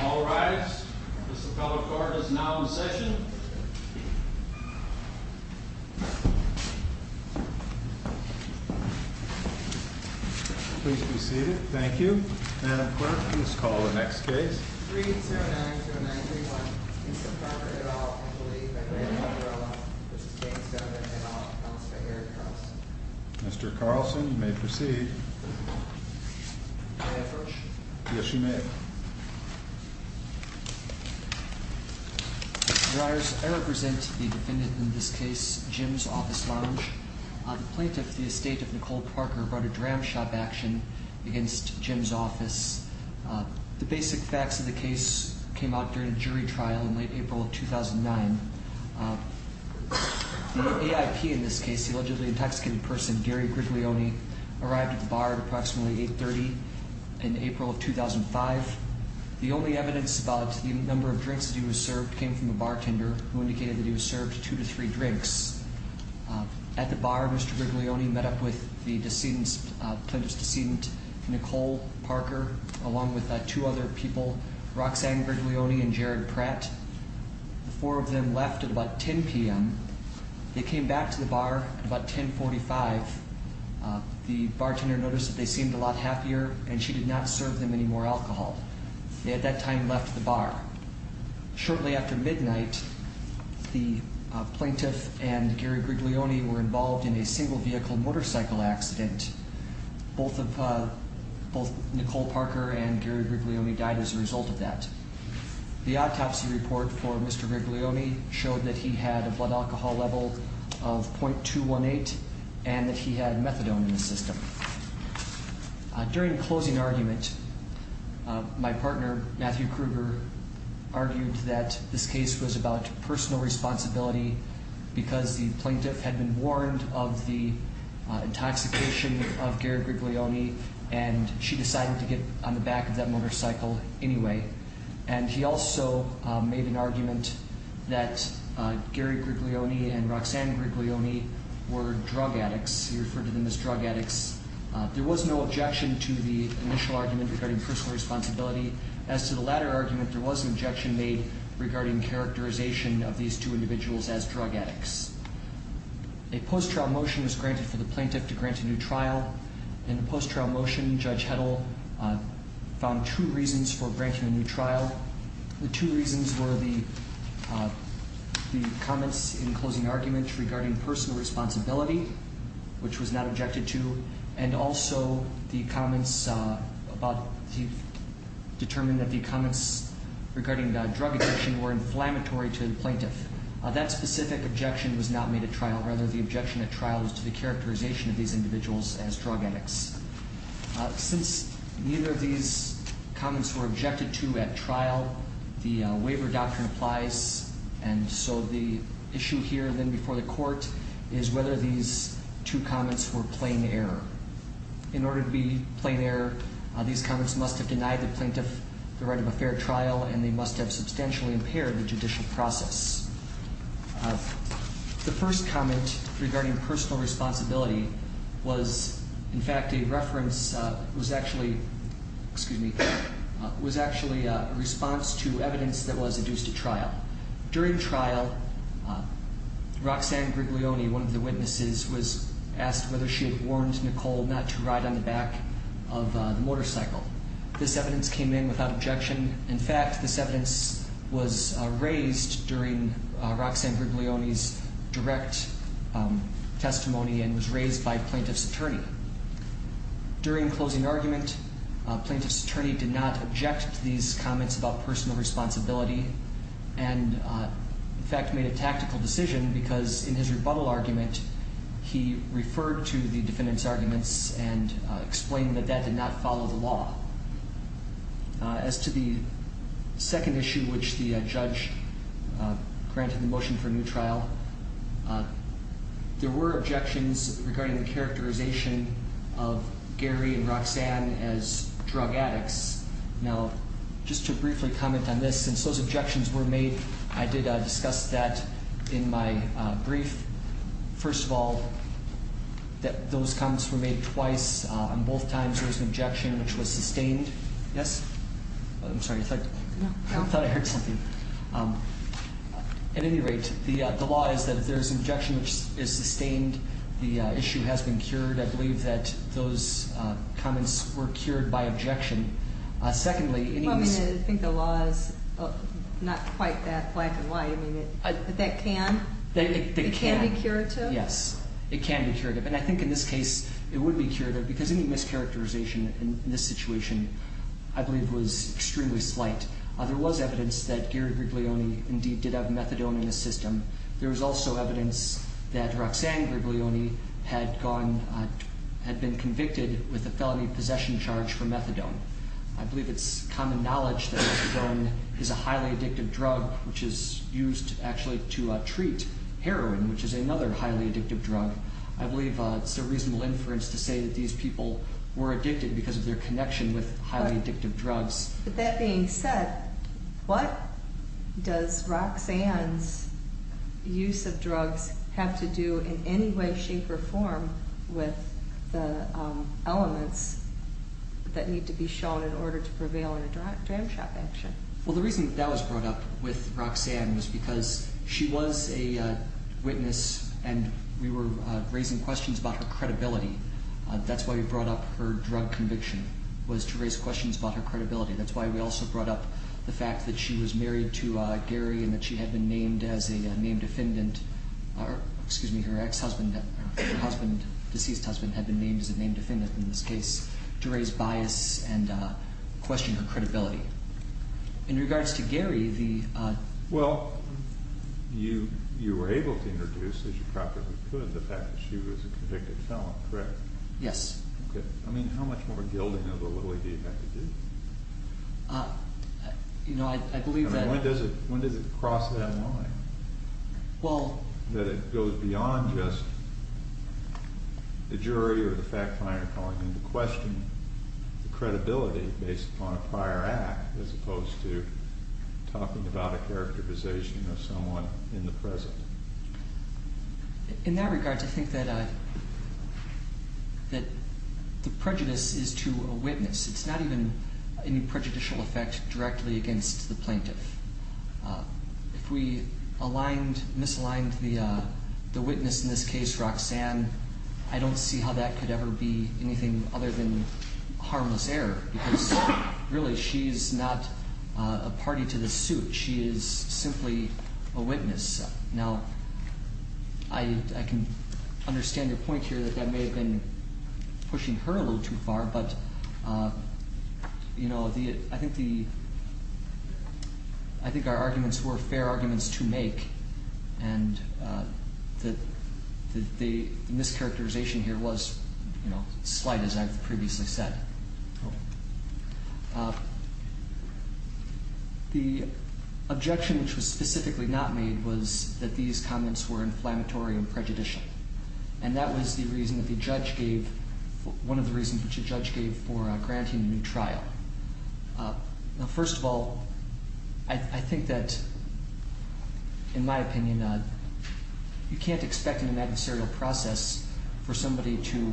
All rise. The Supreme Court is now in session. Please be seated. Thank you. Madam Clerk, please call the next case. Mr Carlson, you may proceed. Yes, you may. All rise. I represent the defendant in this case, Jim's Office Lounge. The plaintiff, the estate of Nicole Parker, brought a dram shop action against Jim's office. The basic facts of the case came out during a jury trial in late April of 2009. The AIP in this case, the allegedly intoxicated person Gary Griglione, arrived at the bar at approximately 8.30 in April of 2005. The only evidence about the number of drinks that he was served came from a bartender who indicated that he was served two to three drinks. At the bar, Mr Griglione met up with the plaintiff's decedent, Nicole Parker, along with two other people, Roxanne Griglione and Jared Pratt. The four of them left at about 10 p.m. They came back to the bar at about 10.45. The bartender noticed that they seemed a lot happier and she did not serve them any more alcohol. They at that time left the bar. Shortly after midnight, the plaintiff and Gary Griglione were involved in a single vehicle motorcycle accident. Both of, both Nicole Parker and Gary Griglione died as a result of that. The autopsy report for Mr Griglione showed that he had a blood alcohol level of .218 and that he had methadone in the system. During the closing argument, my partner, Matthew Kruger, argued that this case was about personal responsibility because the plaintiff had been warned of the intoxication of Gary Griglione and she decided to get on the back of that motorcycle anyway. And he also made an argument that Gary Griglione and Roxanne Griglione were drug addicts. He referred to them as drug addicts. There was no objection to the initial argument regarding personal responsibility. As to the latter argument, there was an objection made regarding characterization of these two individuals as drug addicts. A post-trial motion was granted for the plaintiff to grant a new trial. In the post-trial motion, Judge Heddle found two reasons for granting a new trial. The two reasons were the comments in the closing argument regarding personal responsibility, which was not objected to, and also the comments about, he determined that the comments regarding drug addiction were inflammatory to the plaintiff. That specific objection was not made at trial. Rather, the objection at trial was to the characterization of these individuals as drug addicts. Since neither of these comments were objected to at trial, the waiver doctrine applies. And so the issue here, then before the court, is whether these two comments were plain error. In order to be plain error, these comments must have denied the plaintiff the right of a fair trial and they must have substantially impaired the judicial process. The first comment regarding personal responsibility was in fact a reference, was actually, excuse me, was actually a response to evidence that was adduced at trial. During trial, Roxanne Griglione, one of the witnesses, was asked whether she had warned Nicole not to ride on the back of the motorcycle. This evidence came in without objection. In fact, this evidence was raised during Roxanne Griglione's direct testimony and was raised by plaintiff's attorney. During closing argument, plaintiff's attorney did not object to these comments about personal responsibility and in fact made a tactical decision because in his rebuttal argument, he referred to the defendant's arguments and explained that that did not follow the law. As to the second issue which the judge granted the motion for new trial, there were objections regarding the characterization of Gary and Roxanne as drug addicts. Now, just to briefly comment on this, since those objections were made, I did discuss that in my brief. First of all, those comments were made twice. On both times, there was an objection which was sustained. Yes? I'm sorry, I thought I heard something. At any rate, the law is that if there's an objection which is sustained, the issue has been cured. I believe that those comments were cured by objection. Secondly, it means... Well, I mean, I think the law is not quite that black and white. I mean, but that can? It can be curative? Yes, it can be curative. And I think in this case, it would be curative because any mischaracterization in this situation, I believe, was extremely slight. There was evidence that Gary Griglione indeed did have methadone in his system. There was also evidence that Roxanne Griglione had gone, had been convicted with a felony possession charge for methadone. I believe it's common knowledge that methadone is a highly addictive drug which is used actually to treat heroin which is another highly addictive drug. I believe it's a reasonable inference to say that these people were addicted because of their connection with highly addictive drugs. But that being said, what does Roxanne's use of drugs have to do in any way, shape, or form with the elements that need to be shown in order to prevail in a jam shop action? Well, the reason that was brought up with Roxanne was because she was a witness and we were raising questions about her credibility. That's why we brought up her drug conviction, was to raise questions about her credibility. That's why we also brought up the fact that she was married to Gary and that she had been named as a named defendant, or excuse me, her ex-husband, her husband, deceased husband had been named as a named defendant in this case to raise bias and question her credibility. In regards to Gary, the... Well, you were able to introduce, as you probably could, the fact that she was a convicted felon, correct? Yes. Okay. I mean, how much more gilding of a little idea do you have to do? You know, I believe that... I mean, when does it cross that line? Well... That it goes beyond just the jury or the fact finder calling into question the credibility based upon a prior act as opposed to talking about a characterization of someone in the present. In that regard, I think that the prejudice is to a witness. It's not even any prejudicial effect directly against the plaintiff. If we aligned, misaligned the witness in this case, Roxanne, then I don't see how that could ever be anything other than harmless error because, really, she's not a party to this suit. She is simply a witness. Now, I can understand your point here that that may have been pushing her a little too far, but, you know, I think our arguments were fair arguments to make. And the mischaracterization here was, you know, slight, as I've previously said. The objection which was specifically not made was that these comments were inflammatory and prejudicial. And that was the reason that the judge gave... one of the reasons which the judge gave for granting a new trial. Now, first of all, I think that, in my opinion, you can't expect in an adversarial process for somebody to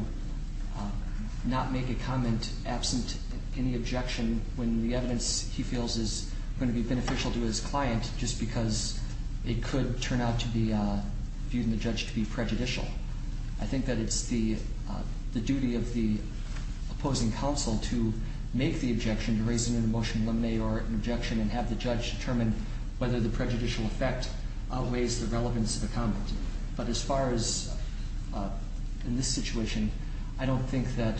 not make a comment absent any objection when the evidence he feels is going to be beneficial to his client just because it could turn out to be viewed in the judge to be prejudicial. I think that it's the duty of the opposing counsel to make the objection, to raise it in a motion of limine or an objection, and have the judge determine whether the prejudicial effect outweighs the relevance of the comment. But as far as in this situation, I don't think that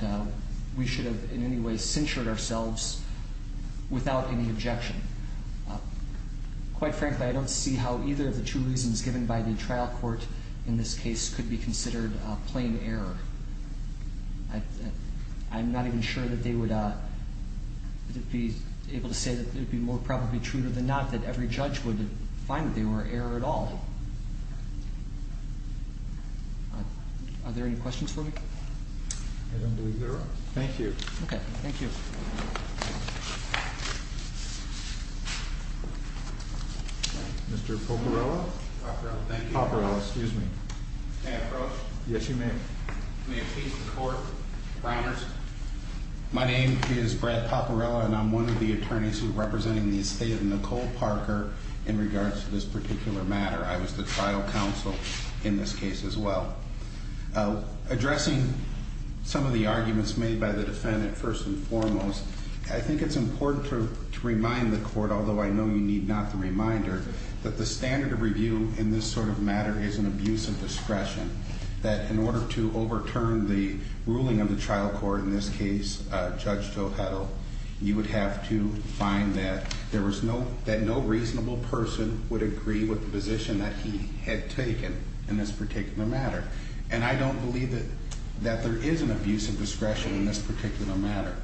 we should have in any way censured ourselves without any objection. Quite frankly, I don't see how either of the two reasons given by the trial court in this case could be considered plain error. I'm not even sure that they would be able to say that it would be more probably true than not that every judge would find that they were error at all. Are there any questions for me? I don't believe there are. Thank you. Okay. Thank you. Mr. Poporello? Poporello, excuse me. Yes, you may. May it please the court. My name is Brad Poporello and I'm one of the attorneys representing the estate of Nicole Parker in regards to this particular matter. I was the trial counsel in this case as well. Addressing some of the arguments made by the defendant first and foremost, I think it's important to remind the court, although I know you need not the reminder, that the standard of review in this sort of matter is an abuse of discretion. That in order to overturn the ruling of the trial court, in this case, Judge Joe Heddle, you would have to find that no reasonable person would agree with the position that he had taken in this particular matter. And I don't believe that there is an abuse of discretion in this particular matter.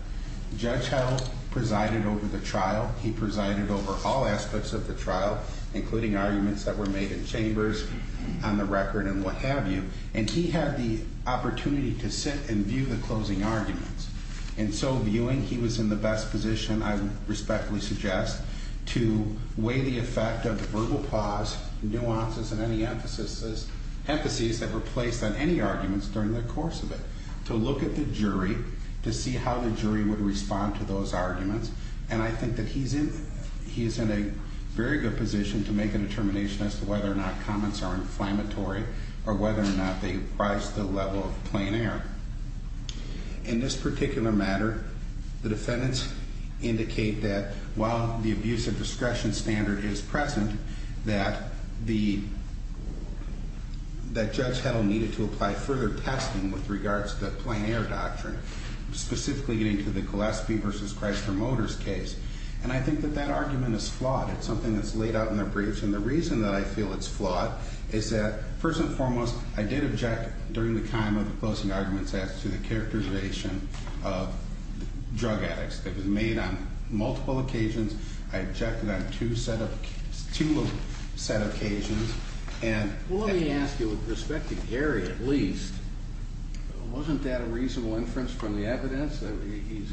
Judge Heddle presided over the trial. He presided over all aspects of the trial, including arguments that were made in chambers, on the record, and what have you. And he had the opportunity to sit and view the closing arguments. And so viewing, he was in the best position, I respectfully suggest, to weigh the effect of the verbal pause, nuances, and any emphases that were placed on any arguments during the course of it. To look at the jury, to see how the jury would respond to those arguments. And I think that he's in a very good position to make a determination as to whether or not comments are inflammatory, or whether or not they rise to the level of plain air. In this particular matter, the defendants indicate that, while the abuse of discretion standard is present, that Judge Heddle needed to apply further testing with regards to plain air doctrine, specifically getting to the Gillespie v. Chrysler Motors case. And I think that that argument is flawed. It's something that's laid out in the briefs. And I feel it's flawed. It's that, first and foremost, I did object during the time of the closing arguments as to the characterization of drug addicts. It was made on multiple occasions. I objected on two set occasions. And... Well, let me ask you, with respect to Harry at least, wasn't that a reasonable inference from the evidence that he's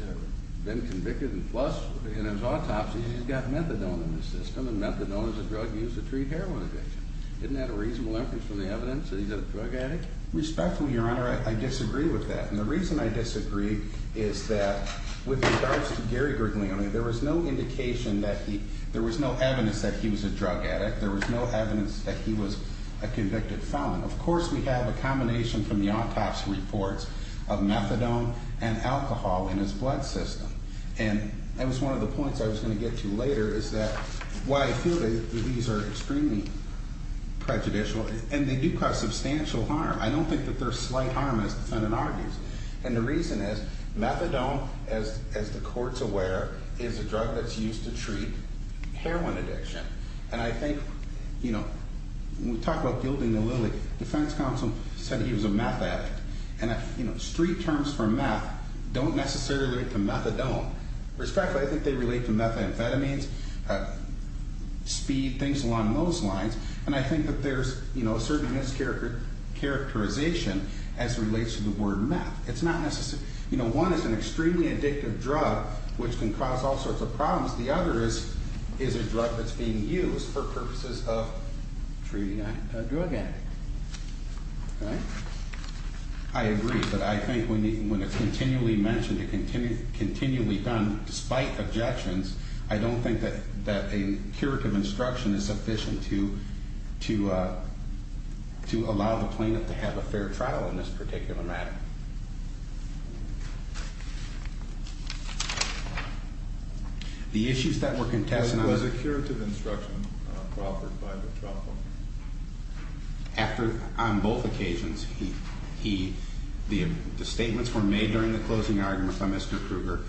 been convicted? And plus, in his autopsy, he's got methadone in his system. And methadone is a drug used to treat heroin addiction. Isn't that a reasonable inference from the evidence that he's a drug addict? Respectfully, Your Honor, I disagree with that. And the reason I disagree is that, with regards to Gary Griglione, there was no indication that he... There was no evidence that he was a drug addict. There was no evidence that he was a convicted felon. Of course, we have a combination from the autopsy reports of methadone and alcohol in his blood system. And that was one of the points I was going to get to later, is that why I feel that these are extremely prejudicial. And they do cause substantial harm. I don't think that they're slight harm, as the defendant argues. And the reason is, methadone, as the court's aware, is a drug that's used to treat heroin addiction. And I think, you know, when we talk about gilding the lily, defense counsel said he was a meth addict. And, you know, street terms for meth don't necessarily relate to methadone. Respectfully, I think they relate to methamphetamines. Speed, things along those lines. And I think that there's, you know, a certain mischaracterization as it relates to the word meth. It's not necessarily... You know, one is an extremely addictive drug, which can cause all sorts of problems. The other is a drug that's being used for purposes of treating a drug addict. Right? I agree, but I think when it's continually mentioned and continually done, despite objections, I don't think that a curative instruction is sufficient to allow the plaintiff to have a fair trial in this particular matter. The issues that were contested... There was a curative instruction offered by the trial court. After, on both occasions, the statements were made during the closing argument by Mr. Kruger.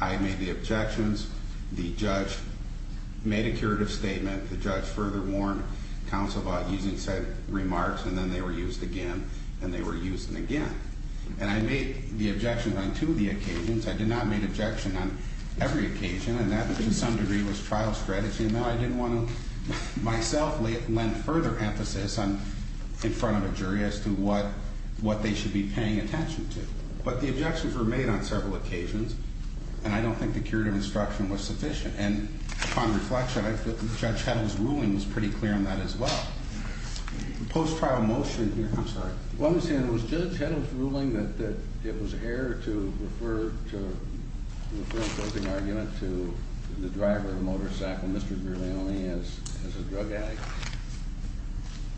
I made the objections. The judge made a curative statement. The judge further warned counsel about using said remarks, and then they were used again, and they were used again. And I made the objections on two of the occasions. I did not make objections on every occasion. And that, to some degree, was trial strategy. And I didn't want to, myself, lend further emphasis in front of a jury as to what they should be paying attention to. But the objections were made on several occasions. And I don't think the curative instruction was sufficient. And upon reflection, I feel that Judge Heddle's ruling was pretty clear on that as well. The post-trial motion here... I'm sorry. Well, I'm saying it was Judge Heddle's ruling that it was fair to refer the closing argument to the driver of the motorcycle, Mr. Griglione, as a drug addict.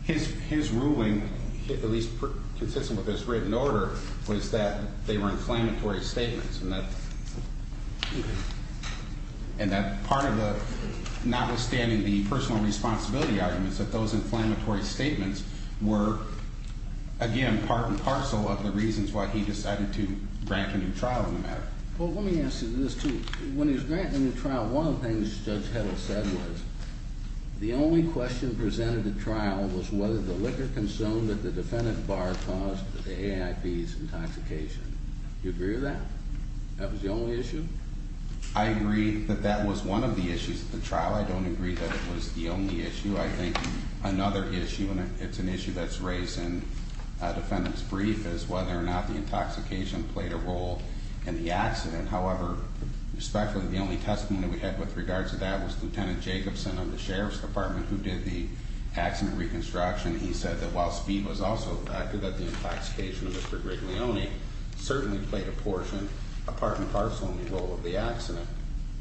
His ruling, at least consistent with his written order, was that they were inflammatory statements and that part of the... notwithstanding the personal responsibility arguments, that those inflammatory statements were, again, part and parcel of the reasons why he decided to grant a new trial on the matter. Well, let me ask you this, too. When he was granting a new trial, one of the things Judge Heddle said was the only question presented at trial was whether the liquor consumed at the defendant bar caused the AIP's intoxication. Do you agree with that? Is that the issue? I agree that that was one of the issues at the trial. I don't agree that it was the only issue. I think another issue, and it's an issue that's raised in a defendant's brief, is whether or not the intoxication played a role in the accident. However, especially the only testimony that we had with regards to that was Lieutenant Jacobson of the Sheriff's Department who did the accident reconstruction. He said that while speed was also a factor, that the intoxication of Mr. Griglione certainly played a portion, a part and parcel, in the role of the accident.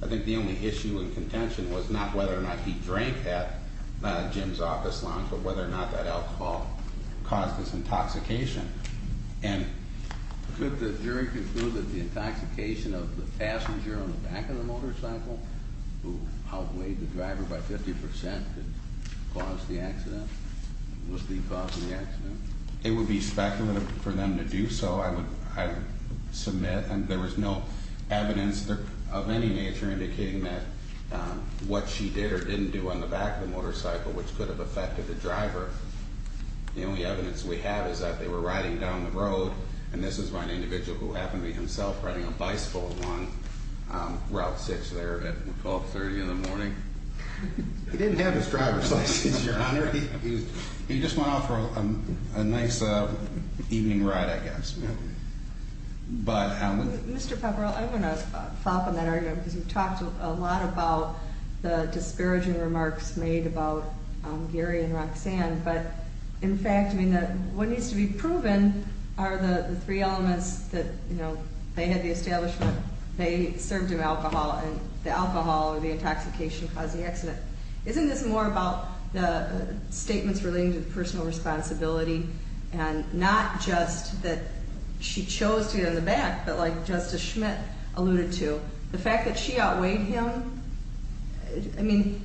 I think the only issue and contention was not whether or not he drank at Jim's office lounge, but whether or not that alcohol caused his intoxication. And could the jury conclude that the intoxication of the passenger on the back of the motorcycle who outweighed the driver by 50% could cause the accident? Was he causing the accident? It would be speculative for them to do so. I would submit. There was no evidence of any nature indicating that what she did or didn't do on the back of the motorcycle, which could have affected the driver. The only evidence we have is that they were riding down the road, and this is by an individual who happened to be himself riding a bicycle along Route 6 there at 1230 in the morning. He didn't have his driver's license, Your Honor. He just went off for a nice evening ride, I guess. But I would... Mr. Papperell, I'm going to fop on that argument because you've talked a lot about the disparaging remarks made about Gary and Roxanne, but in fact, I mean, what needs to be proven are the three elements that, you know, they had the establishment they served him alcohol, and the alcohol or the intoxication caused the accident. Isn't this more about the statements relating to personal responsibility and not just that she chose to get on the back, but like Justice Schmidt alluded to, the fact that she outweighed him? I mean,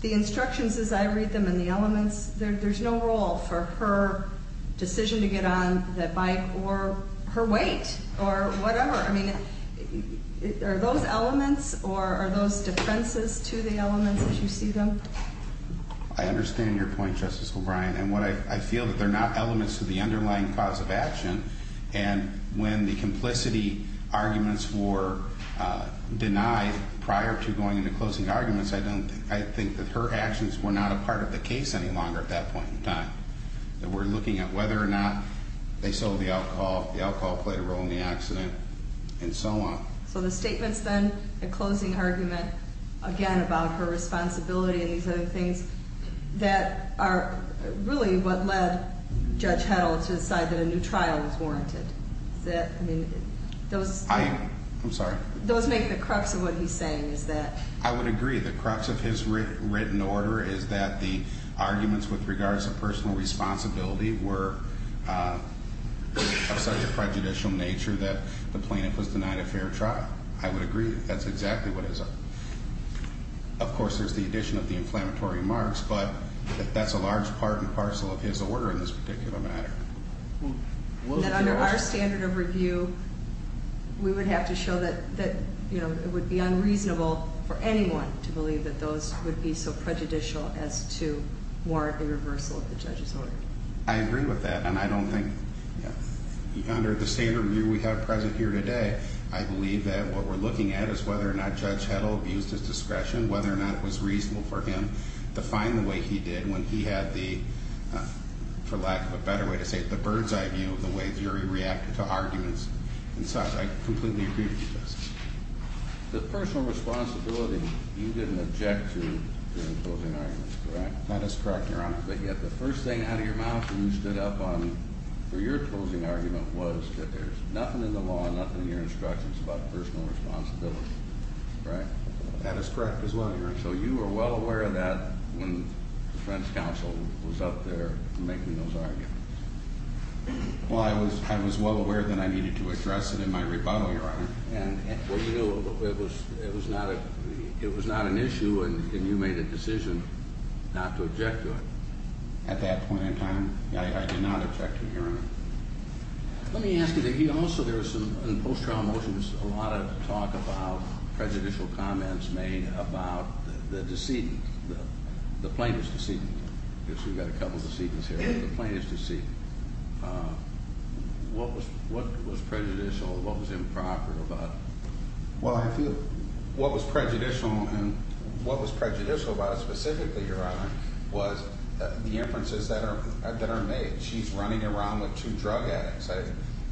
the instructions as I read them and the elements, there's no role for her decision to get on that bike or her weight or whatever. I mean, are those elements or are those defenses to the elements as you see them? I understand your point, Justice O'Brien, and I feel that they're not elements to the underlying cause of action, and when the complicity arguments were denied prior to going into closing arguments, I think that her actions were not a part of the case any longer at that point in time. That we're looking at whether or not they sold the alcohol, the alcohol played a role in the accident, and so on. So the statements then, the closing argument, again about her responsibility and these other things, that are really what led Judge Heddle to decide that a new trial was warranted. I mean, those... I'm sorry? Those make the crux of what he's saying, is that... I would agree. The crux of his written order is that the arguments with regards to personal responsibility were of such a prejudicial nature that the plaintiff was denied a fair trial. Of course, there's the addition of the inflammatory remarks, but that's a large part and parcel of his order in this particular matter. That under our standard of review, we would have to show that it would be unreasonable for anyone to believe that those would be so prejudicial as to warrant a reversal of the judge's order. I agree with that, and I don't think... Under the standard review we have present here today, I believe that what we're looking at is whether he used his discretion, whether or not it was reasonable for him to find the way he did when he had the... for lack of a better way to say it, the bird's-eye view of the way the jury reacted to arguments and such. I completely agree with you, Justice. The personal responsibility you didn't object to during the closing argument, correct? That is correct, Your Honor. when you stood up for your closing argument was that there's nothing in the law that is correct as well, Your Honor. So you were well aware of that when the defense counsel was up there making those arguments. Well, I was well aware that I needed to address it in my rebuttal, Your Honor. Well, you know, it was not an issue and you made a decision not to object to it. At that point in time, I did not object to it, Your Honor. Let me ask you, in post-trial motions, a lot of talk about prejudicial comments made about the decedent, the plaintiff's decedent. I guess we've got a couple of decedents here. The plaintiff's decedent. What was prejudicial? What was improper about it? Well, I feel what was prejudicial and what was prejudicial about it specifically, Your Honor, was the inferences that are made. She's running around with two drug addicts.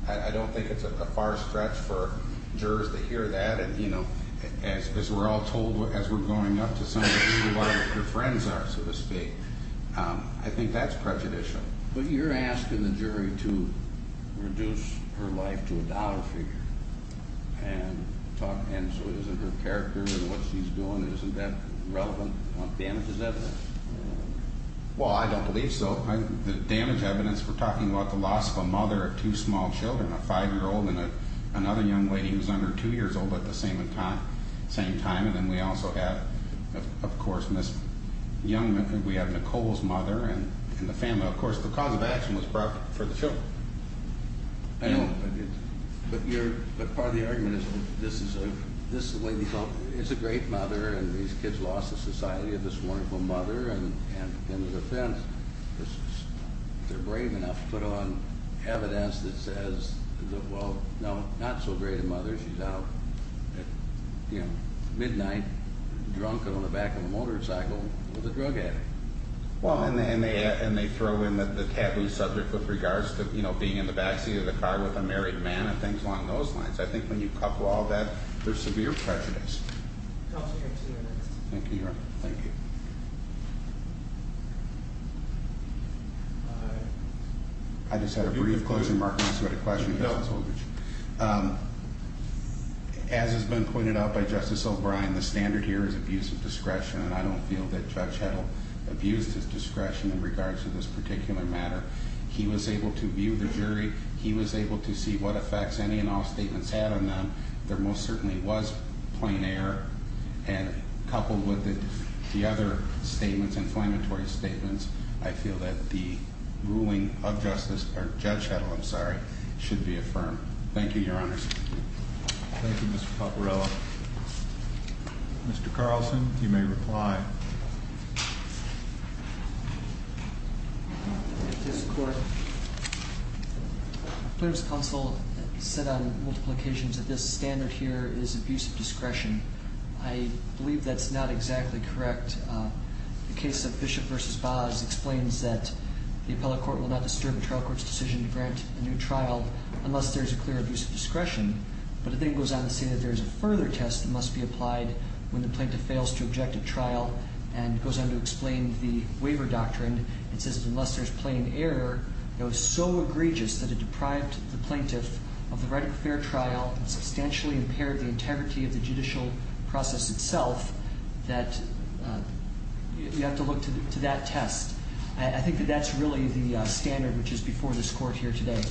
I don't think it's a far stretch for jurors to hear that and, you know, as we're all told as we're going up to somebody to see what their friends are, so to speak. I think that's prejudicial. But you're asking the jury to reduce her life to a dollar figure and so isn't her character and what she's doing, isn't that relevant? Damage is evidence. Well, I don't believe so. The damage evidence, we're talking about the loss of a mother of two small children, not a young lady who's under two years old but the same time and then we also have, of course, we have Nicole's mother and the family. Of course, the cause of action was brought for the children. I know, but part of the argument is this lady is a great mother and these kids lost the society of this wonderful mother and in the defense, if they're brave enough to put on evidence that says well, no, not so great a mother, she's out at midnight drunk and on the back of a motorcycle with a drug addict. And they throw in the taboo subject with regards to being in the backseat of the car with a married man and things along those lines. I think when you couple all that, there's severe prejudice. Thank you, Your Honor. I just had a brief question, and I'm sorry if I'm marking this with a question. As has been pointed out by Justice O'Brien, the standard here is abuse of discretion and I don't feel that Judge Heddle abused his discretion in regards to this particular matter. He was able to view the jury. He was able to see what effects any and all statements had on them. There most certainly was plain error and coupled with it the other statements, inflammatory statements, I'm sorry, should be affirmed. Thank you, Your Honor. Thank you, Mr. Paparella. Mr. Carlson, you may reply. Mr. Court, the plaintiff's counsel said on multiple occasions that this standard here is abuse of discretion. I believe that's not exactly correct. The case of Bishop v. Boz explains that the appellate court will not disturb a trial court's decision to grant a new trial unless there's a clear abuse of discretion. But it then goes on to say that there's a further test that must be applied when the plaintiff fails to object at trial and goes on to explain the waiver doctrine. It says that unless there's plain error that was so egregious that it deprived the plaintiff of the right of fair trial and substantially impaired the integrity of the judicial process itself that you have to look to that test. That's not the standard which is before this court here today.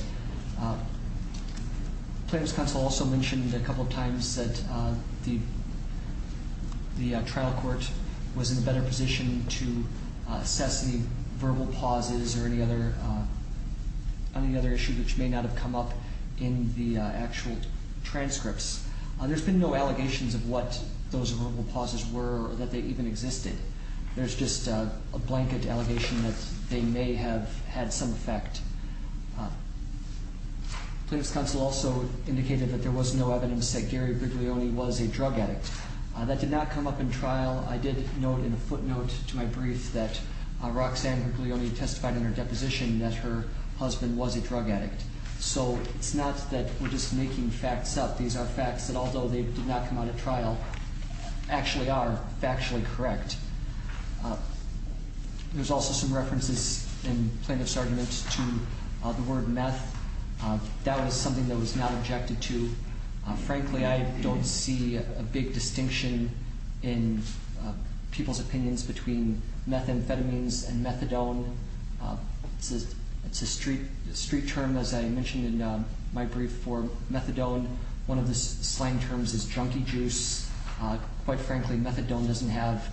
The plaintiff's counsel also mentioned a couple of times that the trial court was in a better position to assess the verbal pauses or any other issue which may not have come up in the actual transcripts. There's been no allegations of what those verbal pauses were or that they even existed. There's just a blanket allegation that they may have had some effect. The plaintiff's counsel also indicated that there was no evidence that Gary Briglione was a drug addict. That did not come up in trial. I did note in a footnote to my brief that Roxanne Briglione testified in her deposition that her husband was a drug addict. So it's not that we're just making facts up. These are facts that although they did not come out at trial actually are factually correct. To the word meth, that was something that was not objected to. Frankly, I don't see a big distinction in people's opinions between methamphetamines and methadone. It's a street term, as I mentioned in my brief, for methadone. One of the slang terms is drunky juice. Quite frankly, methadone doesn't have that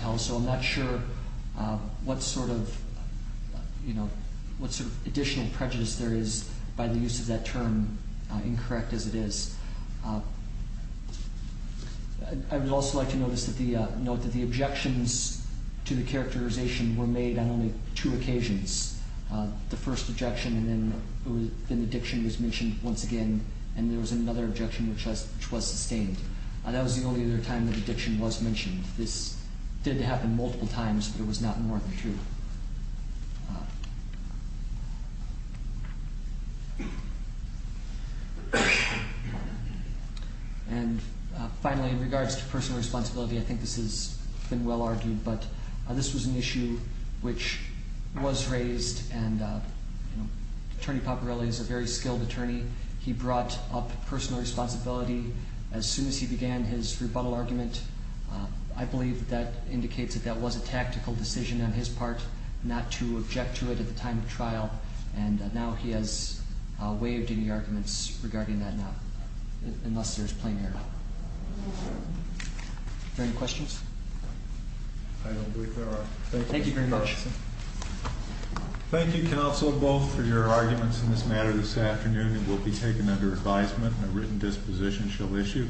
term, so I'm not sure what sort of additional prejudice there is by the use of that term, incorrect as it is. I would also like to note that the objections to the characterization were made on only two occasions. The first objection and then the diction was mentioned once again and there was another objection which was sustained. It happened multiple times, but it was not more than two. And finally, in regards to personal responsibility, I think this has been well argued, but this was an issue which was raised and Attorney Paparelli is a very skilled attorney. He brought up personal responsibility as soon as he began his rebuttal argument. He said that was a tactical decision on his part not to object to it at the time of trial and now he has waived any arguments regarding that now, unless there is plain error. Are there any questions? I don't believe there are. Thank you very much. Thank you, counsel, both for your arguments in this matter this afternoon. It will be taken under advisement and a written disposition shall issue.